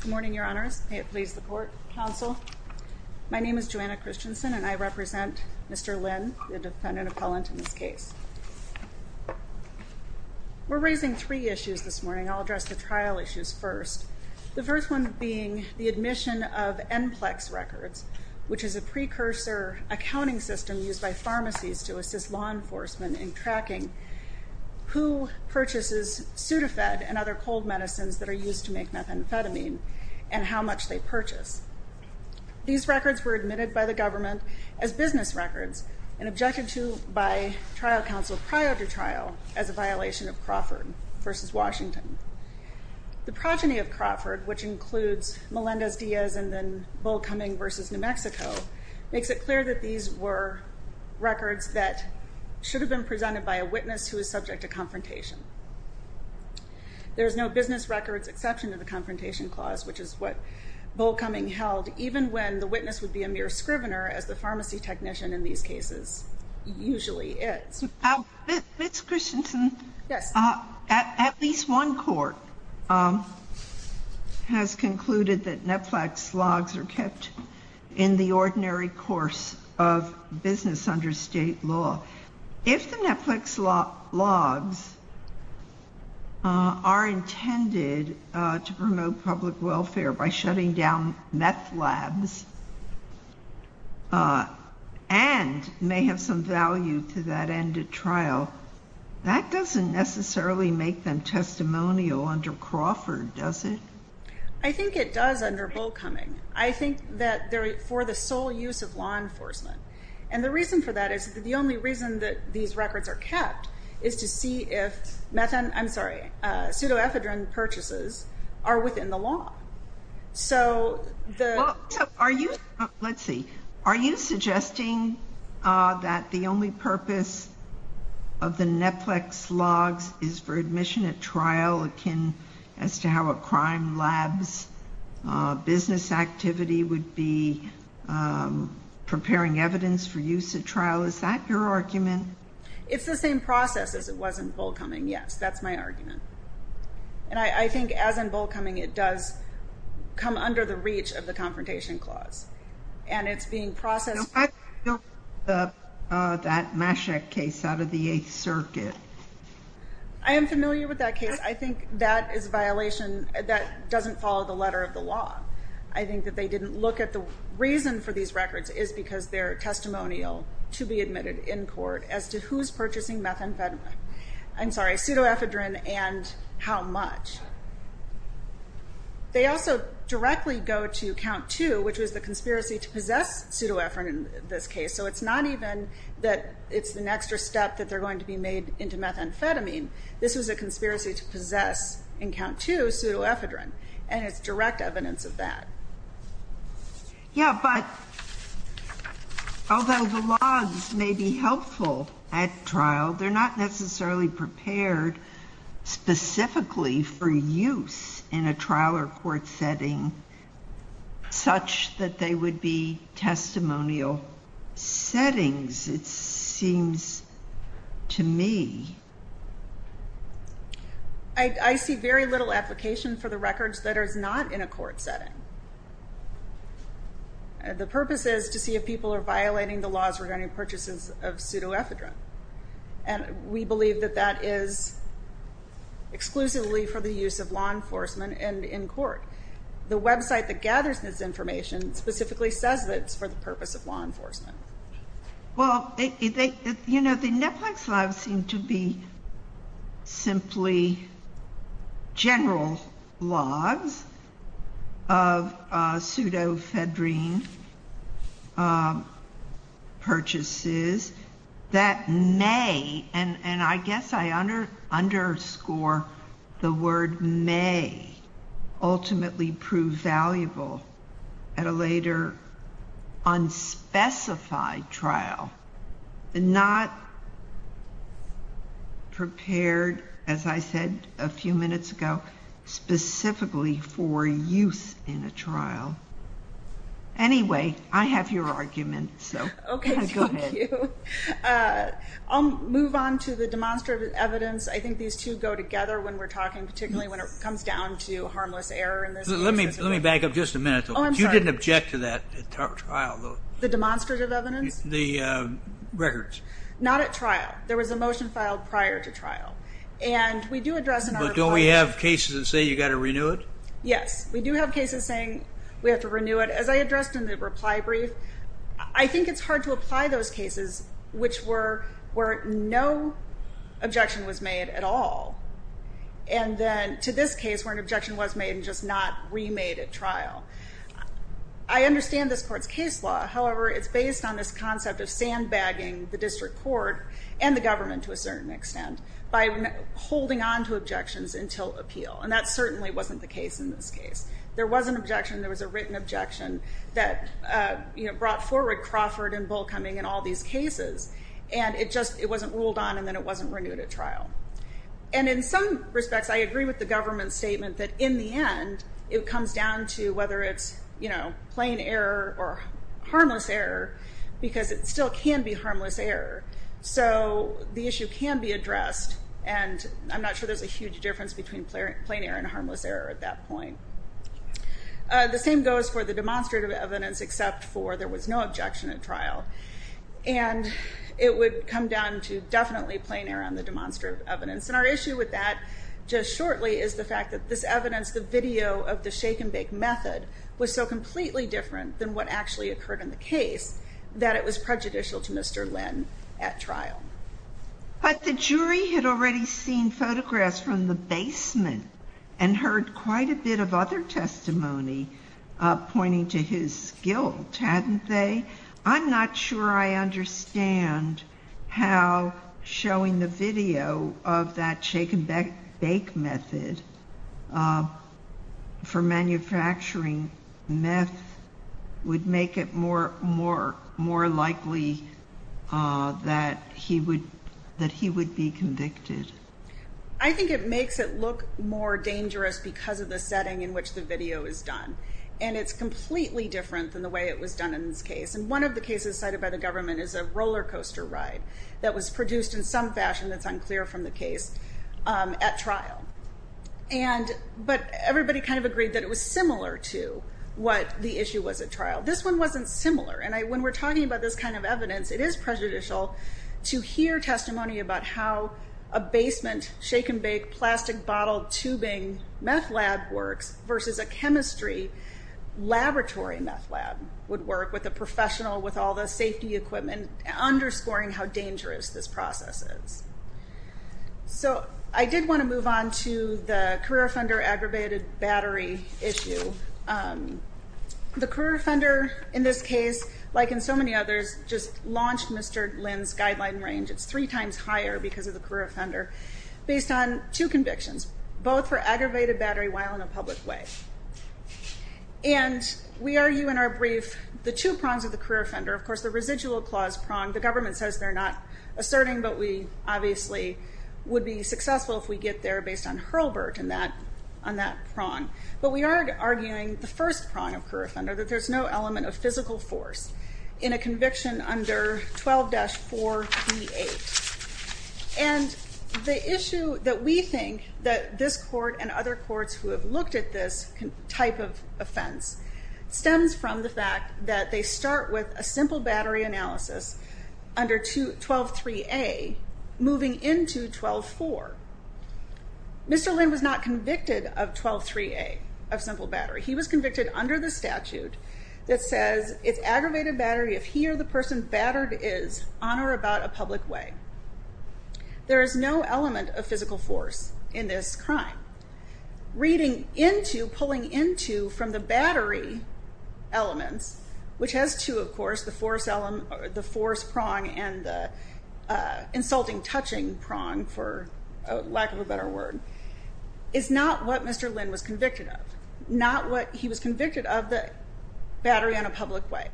Good morning, your honors. May it please the court, counsel. My name is Joanna Christensen and I represent Mr. Lynn, the defendant appellant in this case. We're raising three issues this morning. I'll address the trial issues first. The first one being the admission of NCLEX records, which is a precursor accounting system used by pharmacies to assist law enforcement in tracking who purchases Sudafed and other cold medicines that are used to make methamphetamine and how much they purchase. These records were admitted by the government as business records and objected to by trial counsel prior to trial as a violation of Crawford v. Washington. The progeny of Crawford, which includes Melendez Diaz and then Bull Cumming v. New Mexico, makes it clear that these were records that should have been presented by a witness who is subject to there's no business records exception to the Confrontation Clause, which is what Bull Cumming held even when the witness would be a mere scrivener as the pharmacy technician in these cases usually is. Ms. Christensen, at least one court has concluded that NCLEX logs are kept in the ordinary course of business under state law. If the NCLEX logs are intended to promote public welfare by shutting down meth labs and may have some value to that end of trial, that doesn't necessarily make them testimonial under Crawford, does it? I think it does under Bull Cumming. I think that they're for the sole use of law enforcement. And the reason for that is that the only reason that these records are kept is to see if meth, I'm sorry, pseudoephedrine purchases are within the law. So the... Are you, let's see, are you suggesting that the only purpose of the NCLEX logs is for admission at trial akin as to how a preparing evidence for use at trial? Is that your argument? It's the same process as it was in Bull Cumming, yes. That's my argument. And I think as in Bull Cumming, it does come under the reach of the Confrontation Clause. And it's being processed... That Mashek case out of the Eighth Circuit. I am familiar with that case. I think that is a violation that doesn't follow the letter of the law. I think that they didn't look at the reason for these records is because they're testimonial to be admitted in court as to who's purchasing methamphetamine. I'm sorry, pseudoephedrine and how much. They also directly go to Count 2, which was the conspiracy to possess pseudoephedrine in this case. So it's not even that it's an extra step that they're going to be made into methamphetamine. This was a conspiracy to possess in Count 2 pseudoephedrine. And it's direct evidence of that. Yeah, but although the logs may be helpful at trial, they're not necessarily prepared specifically for use in a trial or court setting such that they would be testimonial settings, it seems to me. I see very little application for the records that are not in a court setting. The purpose is to see if people are violating the laws regarding purchases of pseudoephedrine. And we believe that that is exclusively for the use of law enforcement and in court. The website that gathers this information specifically says that it's for the purpose of law enforcement. Well, you know, the netflix logs seem to be simply general logs of pseudoephedrine purchases that may, and I guess I underscore the word may, ultimately prove invaluable at a later unspecified trial. Not prepared, as I said a few minutes ago, specifically for use in a trial. Anyway, I have your argument, so go ahead. Okay, thank you. I'll move on to the demonstrative evidence. I think these two go together when we're talking, particularly when it comes down to I want to back up just a minute. Oh, I'm sorry. You didn't object to that at trial. The demonstrative evidence? The records. Not at trial. There was a motion filed prior to trial. And we do address in our... But don't we have cases that say you've got to renew it? Yes, we do have cases saying we have to renew it. As I addressed in the reply brief, I think it's hard to apply those cases, which were where no objection was made at all. And then to this case, where an objection was made at trial. I understand this court's case law. However, it's based on this concept of sandbagging the district court and the government to a certain extent by holding on to objections until appeal. And that certainly wasn't the case in this case. There was an objection. There was a written objection that brought forward Crawford and Bullcoming and all these cases. And it just wasn't ruled on, and then it wasn't renewed at trial. And in some respects, I agree with the government's statement that in the end, it comes down to whether it's plain error or harmless error, because it still can be harmless error. So the issue can be addressed. And I'm not sure there's a huge difference between plain error and harmless error at that point. The same goes for the demonstrative evidence, except for there was no objection at trial. And it would come down to definitely plain error on the demonstrative evidence. And our issue with that, just shortly, is the fact that this evidence, the video of the shake and bake method, was so completely different than what actually occurred in the case that it was prejudicial to Mr. Lynn at trial. But the jury had already seen photographs from the basement and heard quite a bit of other testimony pointing to his guilt, hadn't they? I'm not sure I understand how showing the video of that shake and bake method for manufacturing meth would make it more likely that he would be convicted. I think it makes it look more dangerous because of the setting in which the video is done. And it's completely different than the way it was done in this case. And one of the cases cited by the government is a rollercoaster ride that was produced in some fashion that's unclear from the case at trial. But everybody kind of agreed that it was similar to what the issue was at trial. This one wasn't similar. And when we're talking about this kind of evidence, it is prejudicial to hear testimony about how a basement shake and bake plastic bottle tubing meth lab works versus a chemistry laboratory meth lab would work with a professional with all the safety equipment, underscoring how dangerous this process is. So I did want to move on to the career offender aggravated battery issue. The career offender in this case, like in so many others, just launched Mr. Lynn's guideline range. It's three times higher because of the career offender, based on two convictions, both for aggravated battery while in a two prongs of the career offender. Of course, the residual clause prong, the government says they're not asserting, but we obviously would be successful if we get there based on Hurlburt on that prong. But we are arguing the first prong of career offender, that there's no element of physical force in a conviction under 12-438. And the issue that we think that this court and other courts who have looked at this type of offense stems from the fact that they start with a simple battery analysis under 12-3A, moving into 12-4. Mr. Lynn was not convicted of 12-3A, of simple battery. He was convicted under the statute that says it's aggravated battery if he or the person battered is on or about a public way. There is no element of physical force in this crime. Reading into, pulling into, from the battery elements, which has two of course, the force prong and the insulting touching prong, for lack of a better word, is not what Mr. Lynn was convicted of. Not what he was convicted of, the battery on a public way.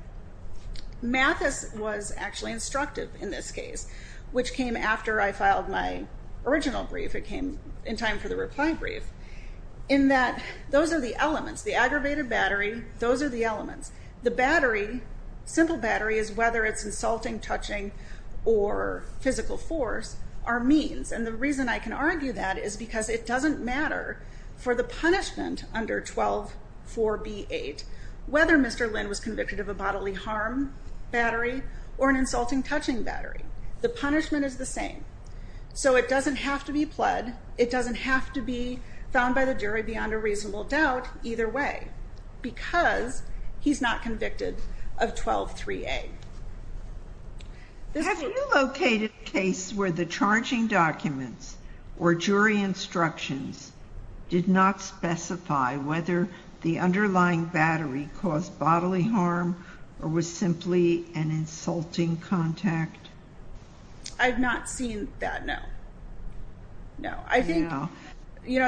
Mathis was actually instructive in this case, which came after I filed my original brief. It came in time for the reply brief. In that, those are the elements. The aggravated battery, those are the elements. The battery, simple battery, is whether it's insulting touching or physical force, are means. And the reason I can argue that is because it doesn't matter for the punishment under 12-4B8, whether Mr. Lynn was convicted of a bodily harm battery or an insulting touching battery. The punishment is the found by the jury beyond a reasonable doubt, either way, because he's not convicted of 12-3A. Have you located a case where the charging documents or jury instructions did not specify whether the underlying battery caused bodily harm or was simply an insulting contact? I've not seen that, no. No. I think, you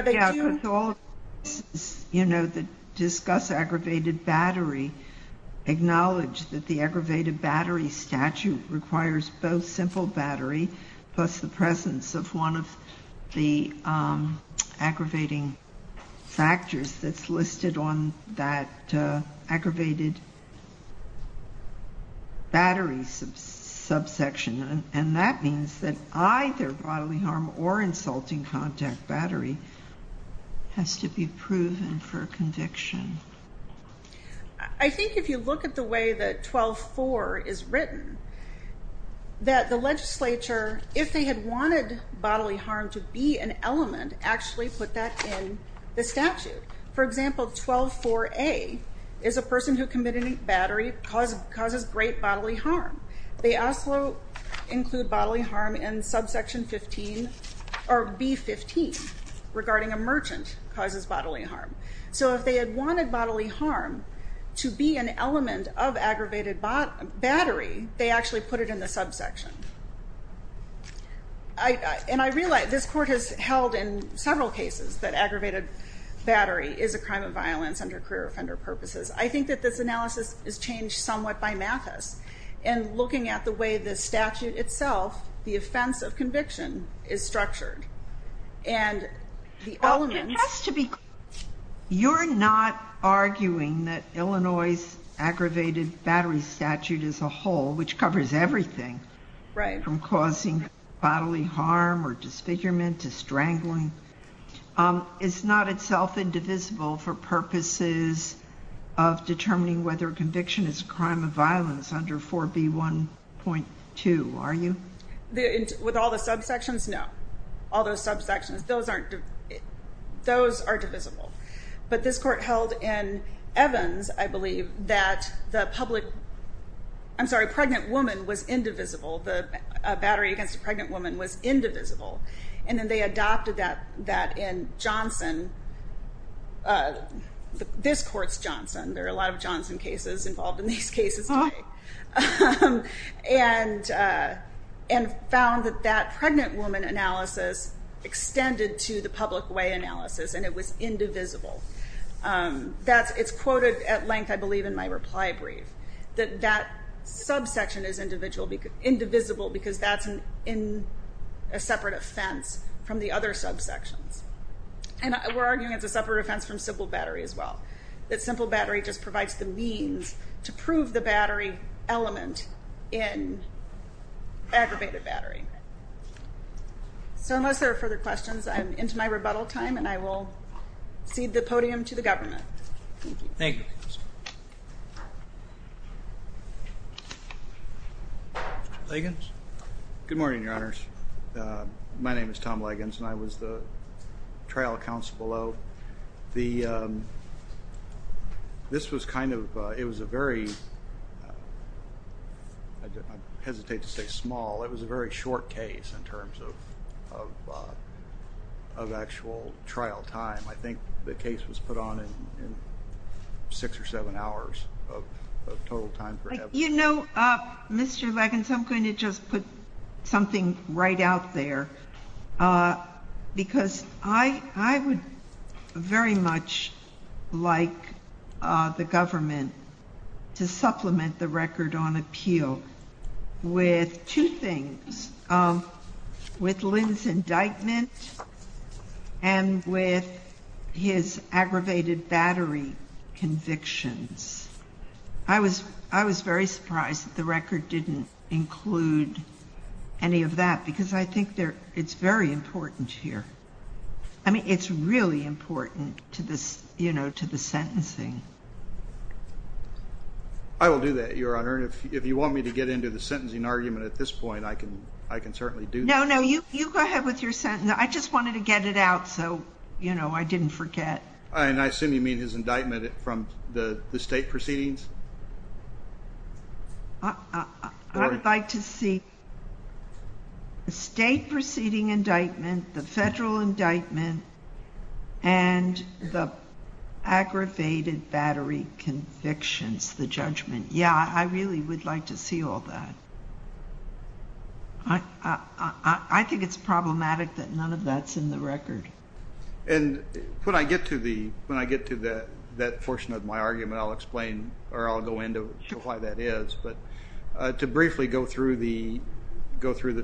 know, to discuss aggravated battery, acknowledge that the aggravated battery statute requires both simple battery plus the presence of one of the aggravating factors that's listed on that aggravated battery subsection. And that means that either bodily harm or insulting contact battery has to be proven for conviction. I think if you look at the way that 12-4 is written, that the legislature, if they had wanted bodily harm to be an element, actually put that in the statute. For example, 12-4A is a person who committed battery causes great bodily harm in subsection 15, or B-15, regarding a merchant causes bodily harm. So if they had wanted bodily harm to be an element of aggravated battery, they actually put it in the subsection. And I realize this court has held in several cases that aggravated battery is a crime of violence under career offender purposes. I think that this analysis is the offense of conviction is structured. And the element has to be, you're not arguing that Illinois' aggravated battery statute as a whole, which covers everything from causing bodily harm or disfigurement to strangling, is not itself indivisible for purposes of determining whether conviction is a crime of violence under 4B1.2, are you? With all the subsections? No. All those subsections, those are divisible. But this court held in Evans, I believe, that the public... I'm sorry, pregnant woman was indivisible. The battery against a pregnant woman was indivisible. And then they adopted that in Johnson. This court's Johnson. There are a lot of Johnson cases involved in these cases today. And found that that pregnant woman analysis extended to the public way analysis, and it was indivisible. It's quoted at length, I believe, in my reply brief, that that subsection is indivisible because that's a separate offense from the other subsections. And we're arguing it's a separate offense from simple battery as well. That simple battery just provides the means to prove the battery element in aggravated battery. So unless there are further questions, I'm into my rebuttal time, and I will cede the podium to the government. Thank you. Thank you. Leggings? Good morning, Your Honors. My name is Tom Leggings, and I was the trial counsel below. This was kind of... It was a very... I hesitate to say small. It was a very short case in terms of actual trial time. I think the case was put on in six or seven hours of total time for evidence. You know, Mr. Leggings, I'm going to just put something right out there. Because I would very much like the government to supplement the record on appeal with two things, with Lynn's indictment and with his aggravated battery convictions. I was very surprised that the record didn't include any of that, because I think it's very important here. I mean, it's really important to the sentencing. I will do that, Your Honor. And if you want me to get into the sentencing argument at this point, I can certainly do that. No, no. You go ahead with your sentence. I just wanted to get it out so I didn't forget. And I assume you mean his indictment from the state proceedings? I would like to see the state proceeding indictment, the federal indictment, and the aggravated battery convictions, the judgment. Yeah, I really would like to see all that. I think it's problematic that none of that's in the record. And when I get to that portion of my argument, I'll explain where I'll go into why that is. But to briefly go through the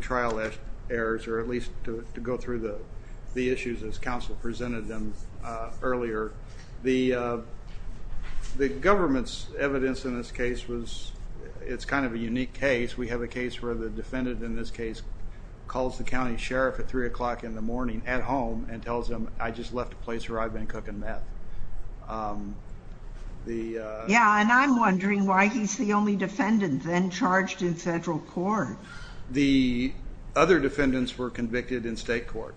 trial errors, or at least to go through the issues as counsel presented them earlier, the government's evidence in this case was... It's kind of a unique case. We have a case where the defendant in this case calls the county sheriff at three o'clock in the morning at home and tells him, I just left a place where I've been smoking meth. Yeah, and I'm wondering why he's the only defendant then charged in federal court. The other defendants were convicted in state court,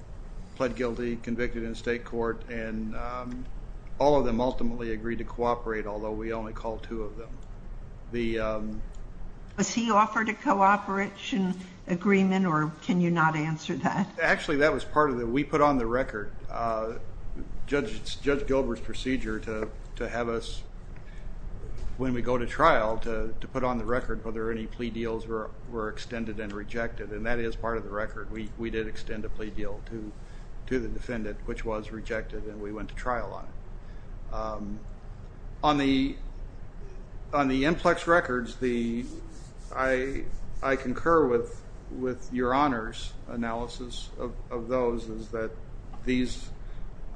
pled guilty, convicted in state court, and all of them ultimately agreed to cooperate, although we only called two of them. Was he offered a cooperation agreement, or can you not answer that? Actually, that was part of it. We put on the record. Judge Gilbert's procedure to have us, when we go to trial, to put on the record whether any plea deals were extended and rejected, and that is part of the record. We did extend a plea deal to the defendant, which was rejected, and we went to trial on it. On the inplex records, I concur with your honor's analysis of those, is that these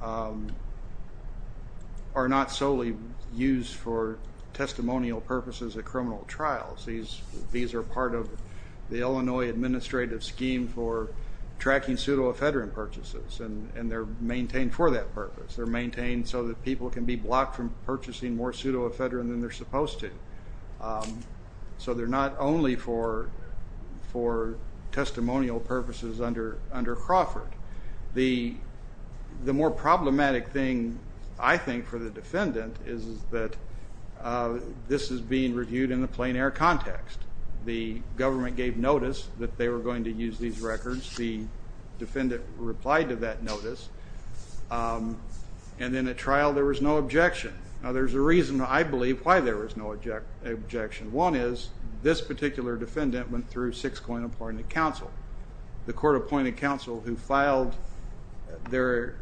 are not solely used for testimonial purposes at criminal trials. These are part of the Illinois administrative scheme for tracking pseudo ephedrine purchases, and they're maintained for that purpose. They're maintained so that people can be blocked from purchasing more pseudo ephedrine than they're supposed to. So they're not only for testimonial purposes under Crawford. The more problematic thing, I think, for the defendant is that this is being reviewed in a plain air context. The government gave notice that they were going to use these records. The defendant replied to that notice, and then at trial, there was no objection. Now, there's a reason, I believe, why there was no objection. One is, this particular defendant went through six point appointed counsel. The court appointed counsel who filed their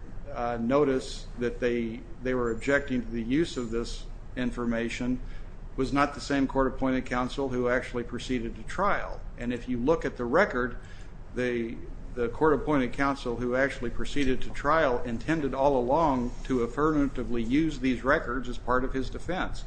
notice that they were objecting to the use of this information was not the same court appointed counsel who actually proceeded to trial. And if you look at the record, the court appointed counsel who actually proceeded to trial intended all along to affirmatively use these records as part of his defense,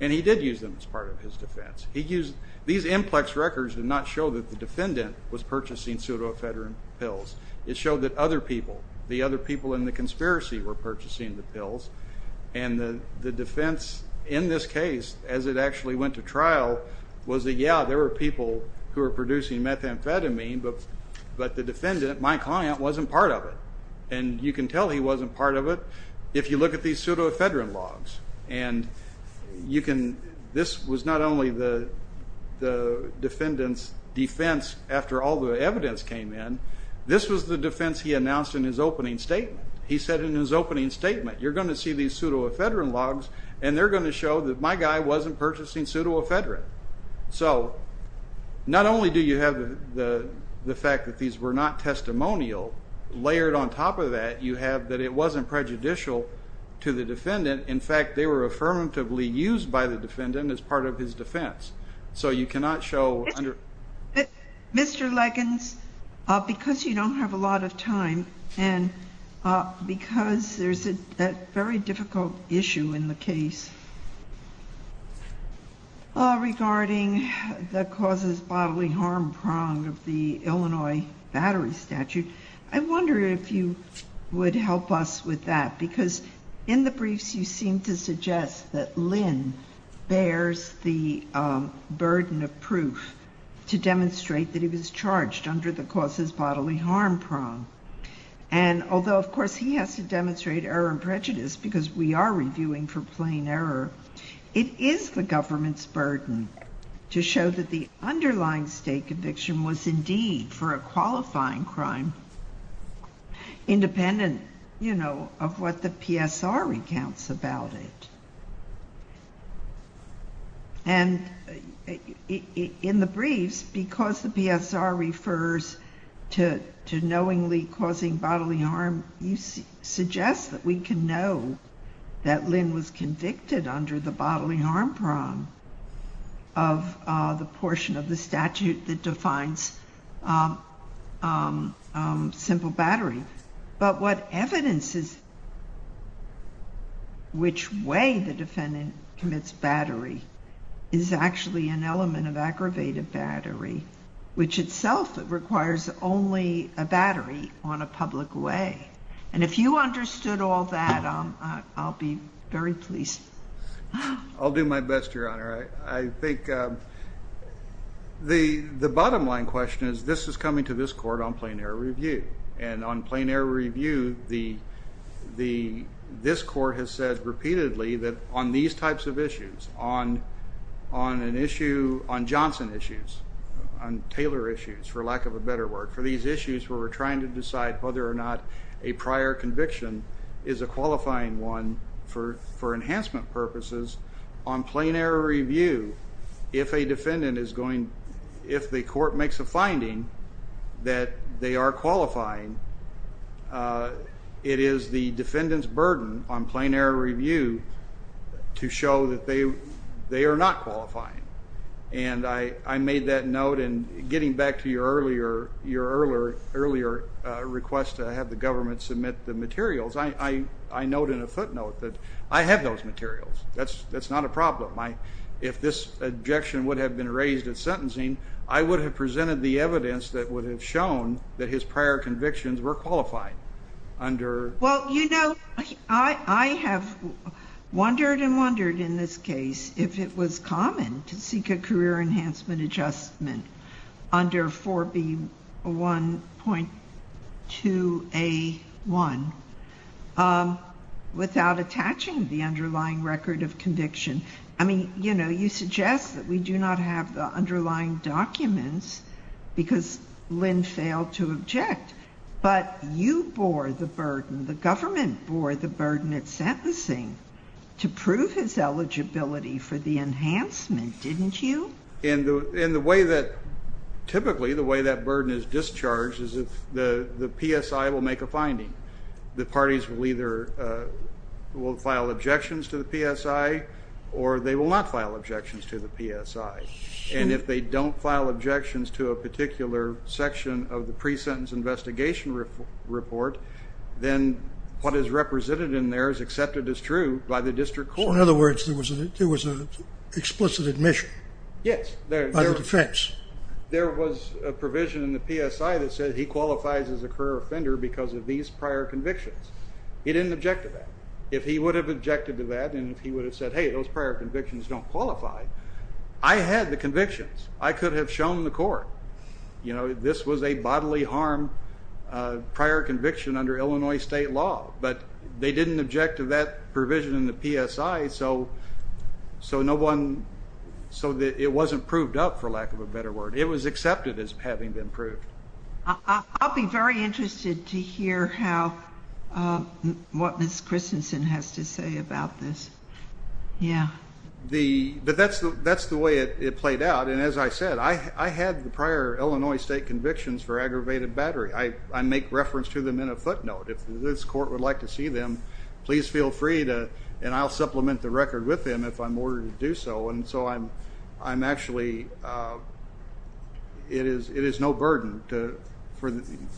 and he did use them as part of his defense. These implex records did not show that the defendant was purchasing pseudo ephedrine pills. It showed that other people, the other people in the conspiracy were purchasing the pills, and the defense in this case, as it actually went to trial, was that, yeah, there were people who were producing methamphetamine, but the defendant, my client, wasn't part of it. And you can tell he wasn't part of it if you look at these pseudo ephedrine logs. And you can... This was not only the defendant's defense after all the evidence came in, this was the defense he announced in his opening statement. He said in his opening statement, you're gonna see these pseudo ephedrine logs, and they're gonna show that my guy wasn't purchasing pseudo ephedrine. So, not only do you have the fact that these were not testimonial, layered on top of that, you have that it wasn't prejudicial to the defendant. In fact, they were affirmatively used by the defendant as part of his defense. So, you cannot show under... Mr. Leggins, because you don't have a lot of time, and because there's a very difficult issue in the case regarding the causes bodily harm prong of the Illinois Battery Statute, I wonder if you would help us with that. Because in the briefs, you seem to suggest that Lynn bears the burden of proof to demonstrate that he was charged under the causes bodily harm prong. And although, of course, he has to demonstrate error and prejudice because we are reviewing for plain error, it is the government's burden to show that the underlying state conviction was indeed for a qualifying crime, independent of what the PSR recounts about it. And in the briefs, because the PSR refers to knowingly causing bodily harm, you suggest that we can know that Lynn was convicted under the bodily harm prong of the portion of the statute that defines simple battery. But what evidence is... Which way the defendant commits battery is actually an element of aggravated battery, which itself requires only a battery on a public way. And if you understood all that, I'll be very pleased. I'll do my best, Your Honor. I think the bottom line question is, this is coming to this court on plain error review. And on plain error review, this court has said repeatedly that on these types of issues, on an issue, on Johnson issues, on Taylor issues, for lack of a better word, for these issues where we're trying to decide whether or not a prior conviction is a qualifying one for enhancement purposes, on plain error review, if a defendant is going... If the court makes a finding that they are qualifying, it is the defendant's burden on plain error review to show that they are not qualifying. And I made that note, and getting back to your earlier request to have the government submit the materials, I note in a footnote that I have those materials. That's not a problem. If this objection would have been raised at sentencing, I would have presented the evidence that would have shown that his prior convictions were qualifying under... Well, you know, I have wondered and wondered in this case if it was common to seek a career enhancement adjustment under 4B1.2A1 without attaching the underlying record of conviction. I mean, you know, you suggest that we do not have the underlying documents because Lynn failed to object. But you bore the burden, the government bore the burden at sentencing to prove his eligibility for the enhancement, didn't you? And the way that typically, the way that burden is discharged is if the PSI will make a finding, the parties will either, will file objections to the PSI or they will not file objections to the PSI. And if they don't file objections to a particular section of the pre-sentence investigation report, then what is represented in there is accepted as true by the district court. In other words, there was an explicit admission. Yes. By the defense. There was a provision in the PSI that said he qualifies as a career offender because of these prior convictions. He didn't object to that. If he would have objected to that and if he would have said, hey, those prior convictions don't qualify, I had the convictions. I could have shown the court. You know, this was a bodily harm prior conviction under Illinois state law, but they didn't object to that provision in the PSI, so no one, so it wasn't proved up, for lack of a better word. It was accepted as having been proved. I'll be very interested to hear how, what Ms. Christensen has to say about this. Yeah. The, but that's the, that's the way it played out. And as I said, I, I had the prior Illinois state convictions for aggravated battery. I, I make reference to them in a footnote. If this court would like to see them, please feel free to, and I'll supplement the record with them if I'm ordered to do so. And so I'm, I'm actually, it is, it is no burden to, for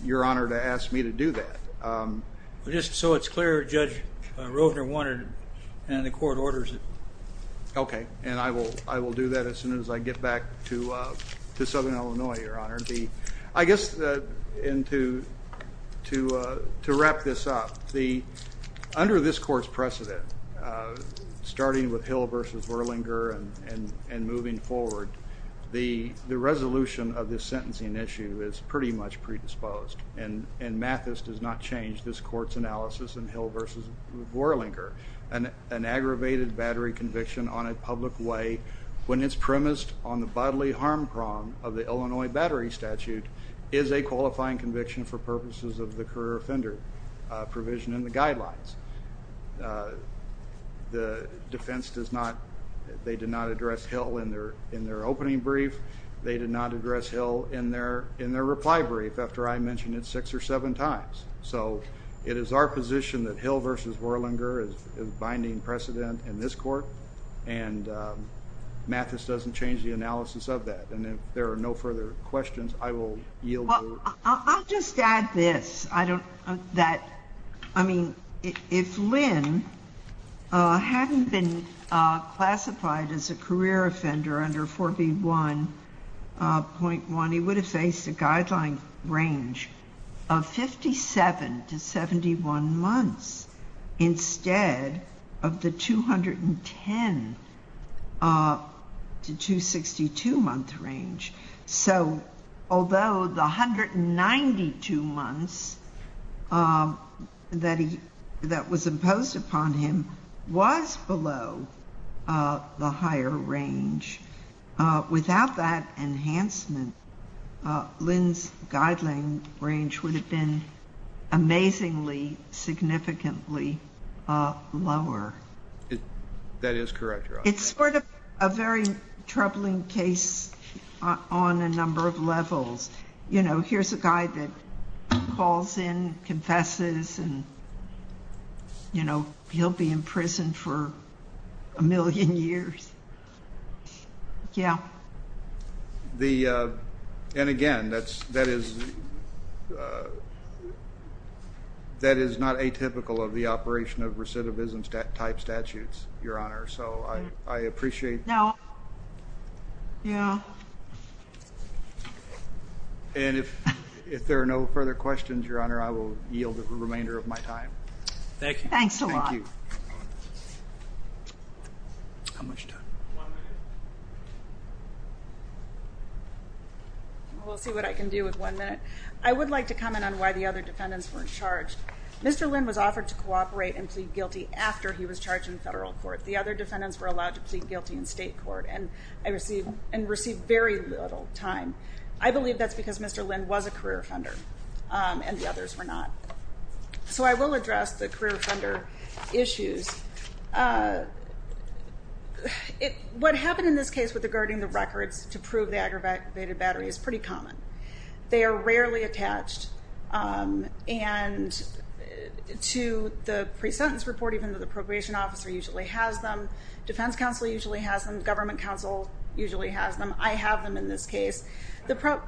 your honor to ask me to do that. Just so it's clear, Judge Rovner wanted it and the court orders it. Okay. And I will, I will do that as soon as I get back to, to Southern Illinois, your honor. The, I guess, and to, to, to wrap this up, the, under this court's precedent, starting with Hill versus Vorlinger and, and, and moving forward, the, the resolution of this sentencing issue is pretty much predisposed. And, and Mathis does not change this court's analysis in Hill versus Vorlinger. An, an aggravated battery conviction on a public way, when it's premised on the bodily harm prong of the Illinois battery statute, is a qualifying conviction for purposes of the career offender provision in the defense. The defense does not, they did not address Hill in their, in their opening brief. They did not address Hill in their, in their reply brief, after I mentioned it six or seven times. So, it is our position that Hill versus Vorlinger is, is binding precedent in this court. And Mathis doesn't change the analysis of that. And if there are no further questions, I will yield. Well, I'll, I'll just add this. I don't, that, I mean, if, if Lynn hadn't been classified as a career offender under 4B1.1, he would have faced a guideline range of 57 to 71 months, instead of the 210 to 262 month range. So, although the 192 months that he, that was imposed upon him was below the higher range, without that enhancement, Lynn's guideline range would have been amazingly significantly lower. That is correct, Your Honor. It's sort of a very troubling case on, on a number of levels. You know, here's a guy that calls in, confesses, and you know, he'll be in prison for a million years. Yeah. The and again, that's, that is that is not atypical of the operation of statutes, Your Honor. So I, I appreciate. No. Yeah. And if, if there are no further questions, Your Honor, I will yield the remainder of my time. Thank you. Thanks a lot. How much time? We'll see what I can do with one minute. I would like to comment on why the other defendants weren't charged. Mr. Lynn was offered to cooperate and plead guilty after he was charged in federal court. The other defendants were allowed to plead guilty in state court and I received and received very little time. I believe that's because Mr. Lynn was a career offender and the others were not. So I will address the career offender issues. What happened in this case with the guarding the records to prove the aggravated battery is pretty common. They are rarely attached and to the pre-sentence report, even though the probation officer usually has them, defense counsel usually has them, government counsel usually has them. I have them in this case. The prob,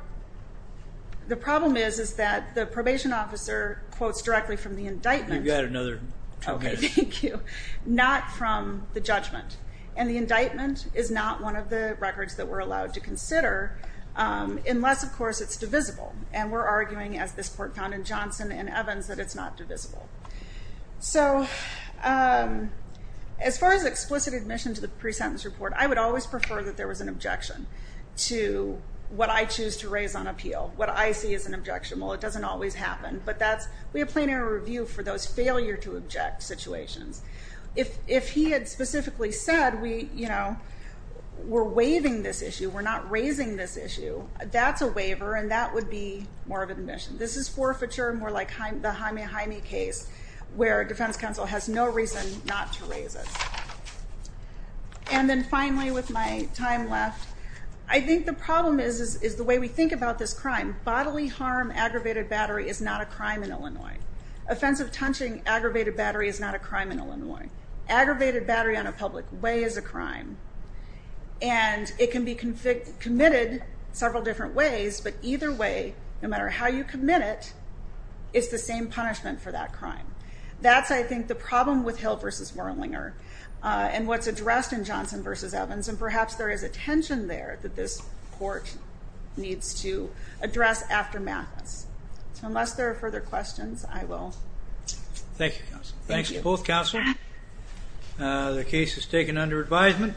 the problem is, is that the probation officer quotes directly from the indictment. You've got another two minutes. Okay, thank you. Not from the judgment and the indictment is not one of the records that we're it's divisible and we're arguing as this court found in Johnson and Evans that it's not divisible. So, um, as far as explicit admission to the pre-sentence report, I would always prefer that there was an objection to what I choose to raise on appeal. What I see as an objection. Well, it doesn't always happen, but that's, we have plenary review for those failure to object situations. If, if he had specifically said, we, you know, we're waiving this issue. We're not raising this issue. That's a waiver. And that would be more of an admission. This is forfeiture, more like the Jaime, Jaime case where defense counsel has no reason not to raise it. And then finally, with my time left, I think the problem is, is the way we think about this crime. Bodily harm, aggravated battery is not a crime in Illinois. Offensive touching, aggravated battery is not a crime in Illinois. Aggravated battery on a public way is a crime and it can be convicted, committed several different ways, but either way, no matter how you commit it, it's the same punishment for that crime. That's, I think the problem with Hill versus Wurlinger and what's addressed in Johnson versus Evans. And perhaps there is a tension there that this court needs to address aftermath. So unless there are further questions, I will. Thank you, counsel. Thanks to both counselors. The case is taken under advisement.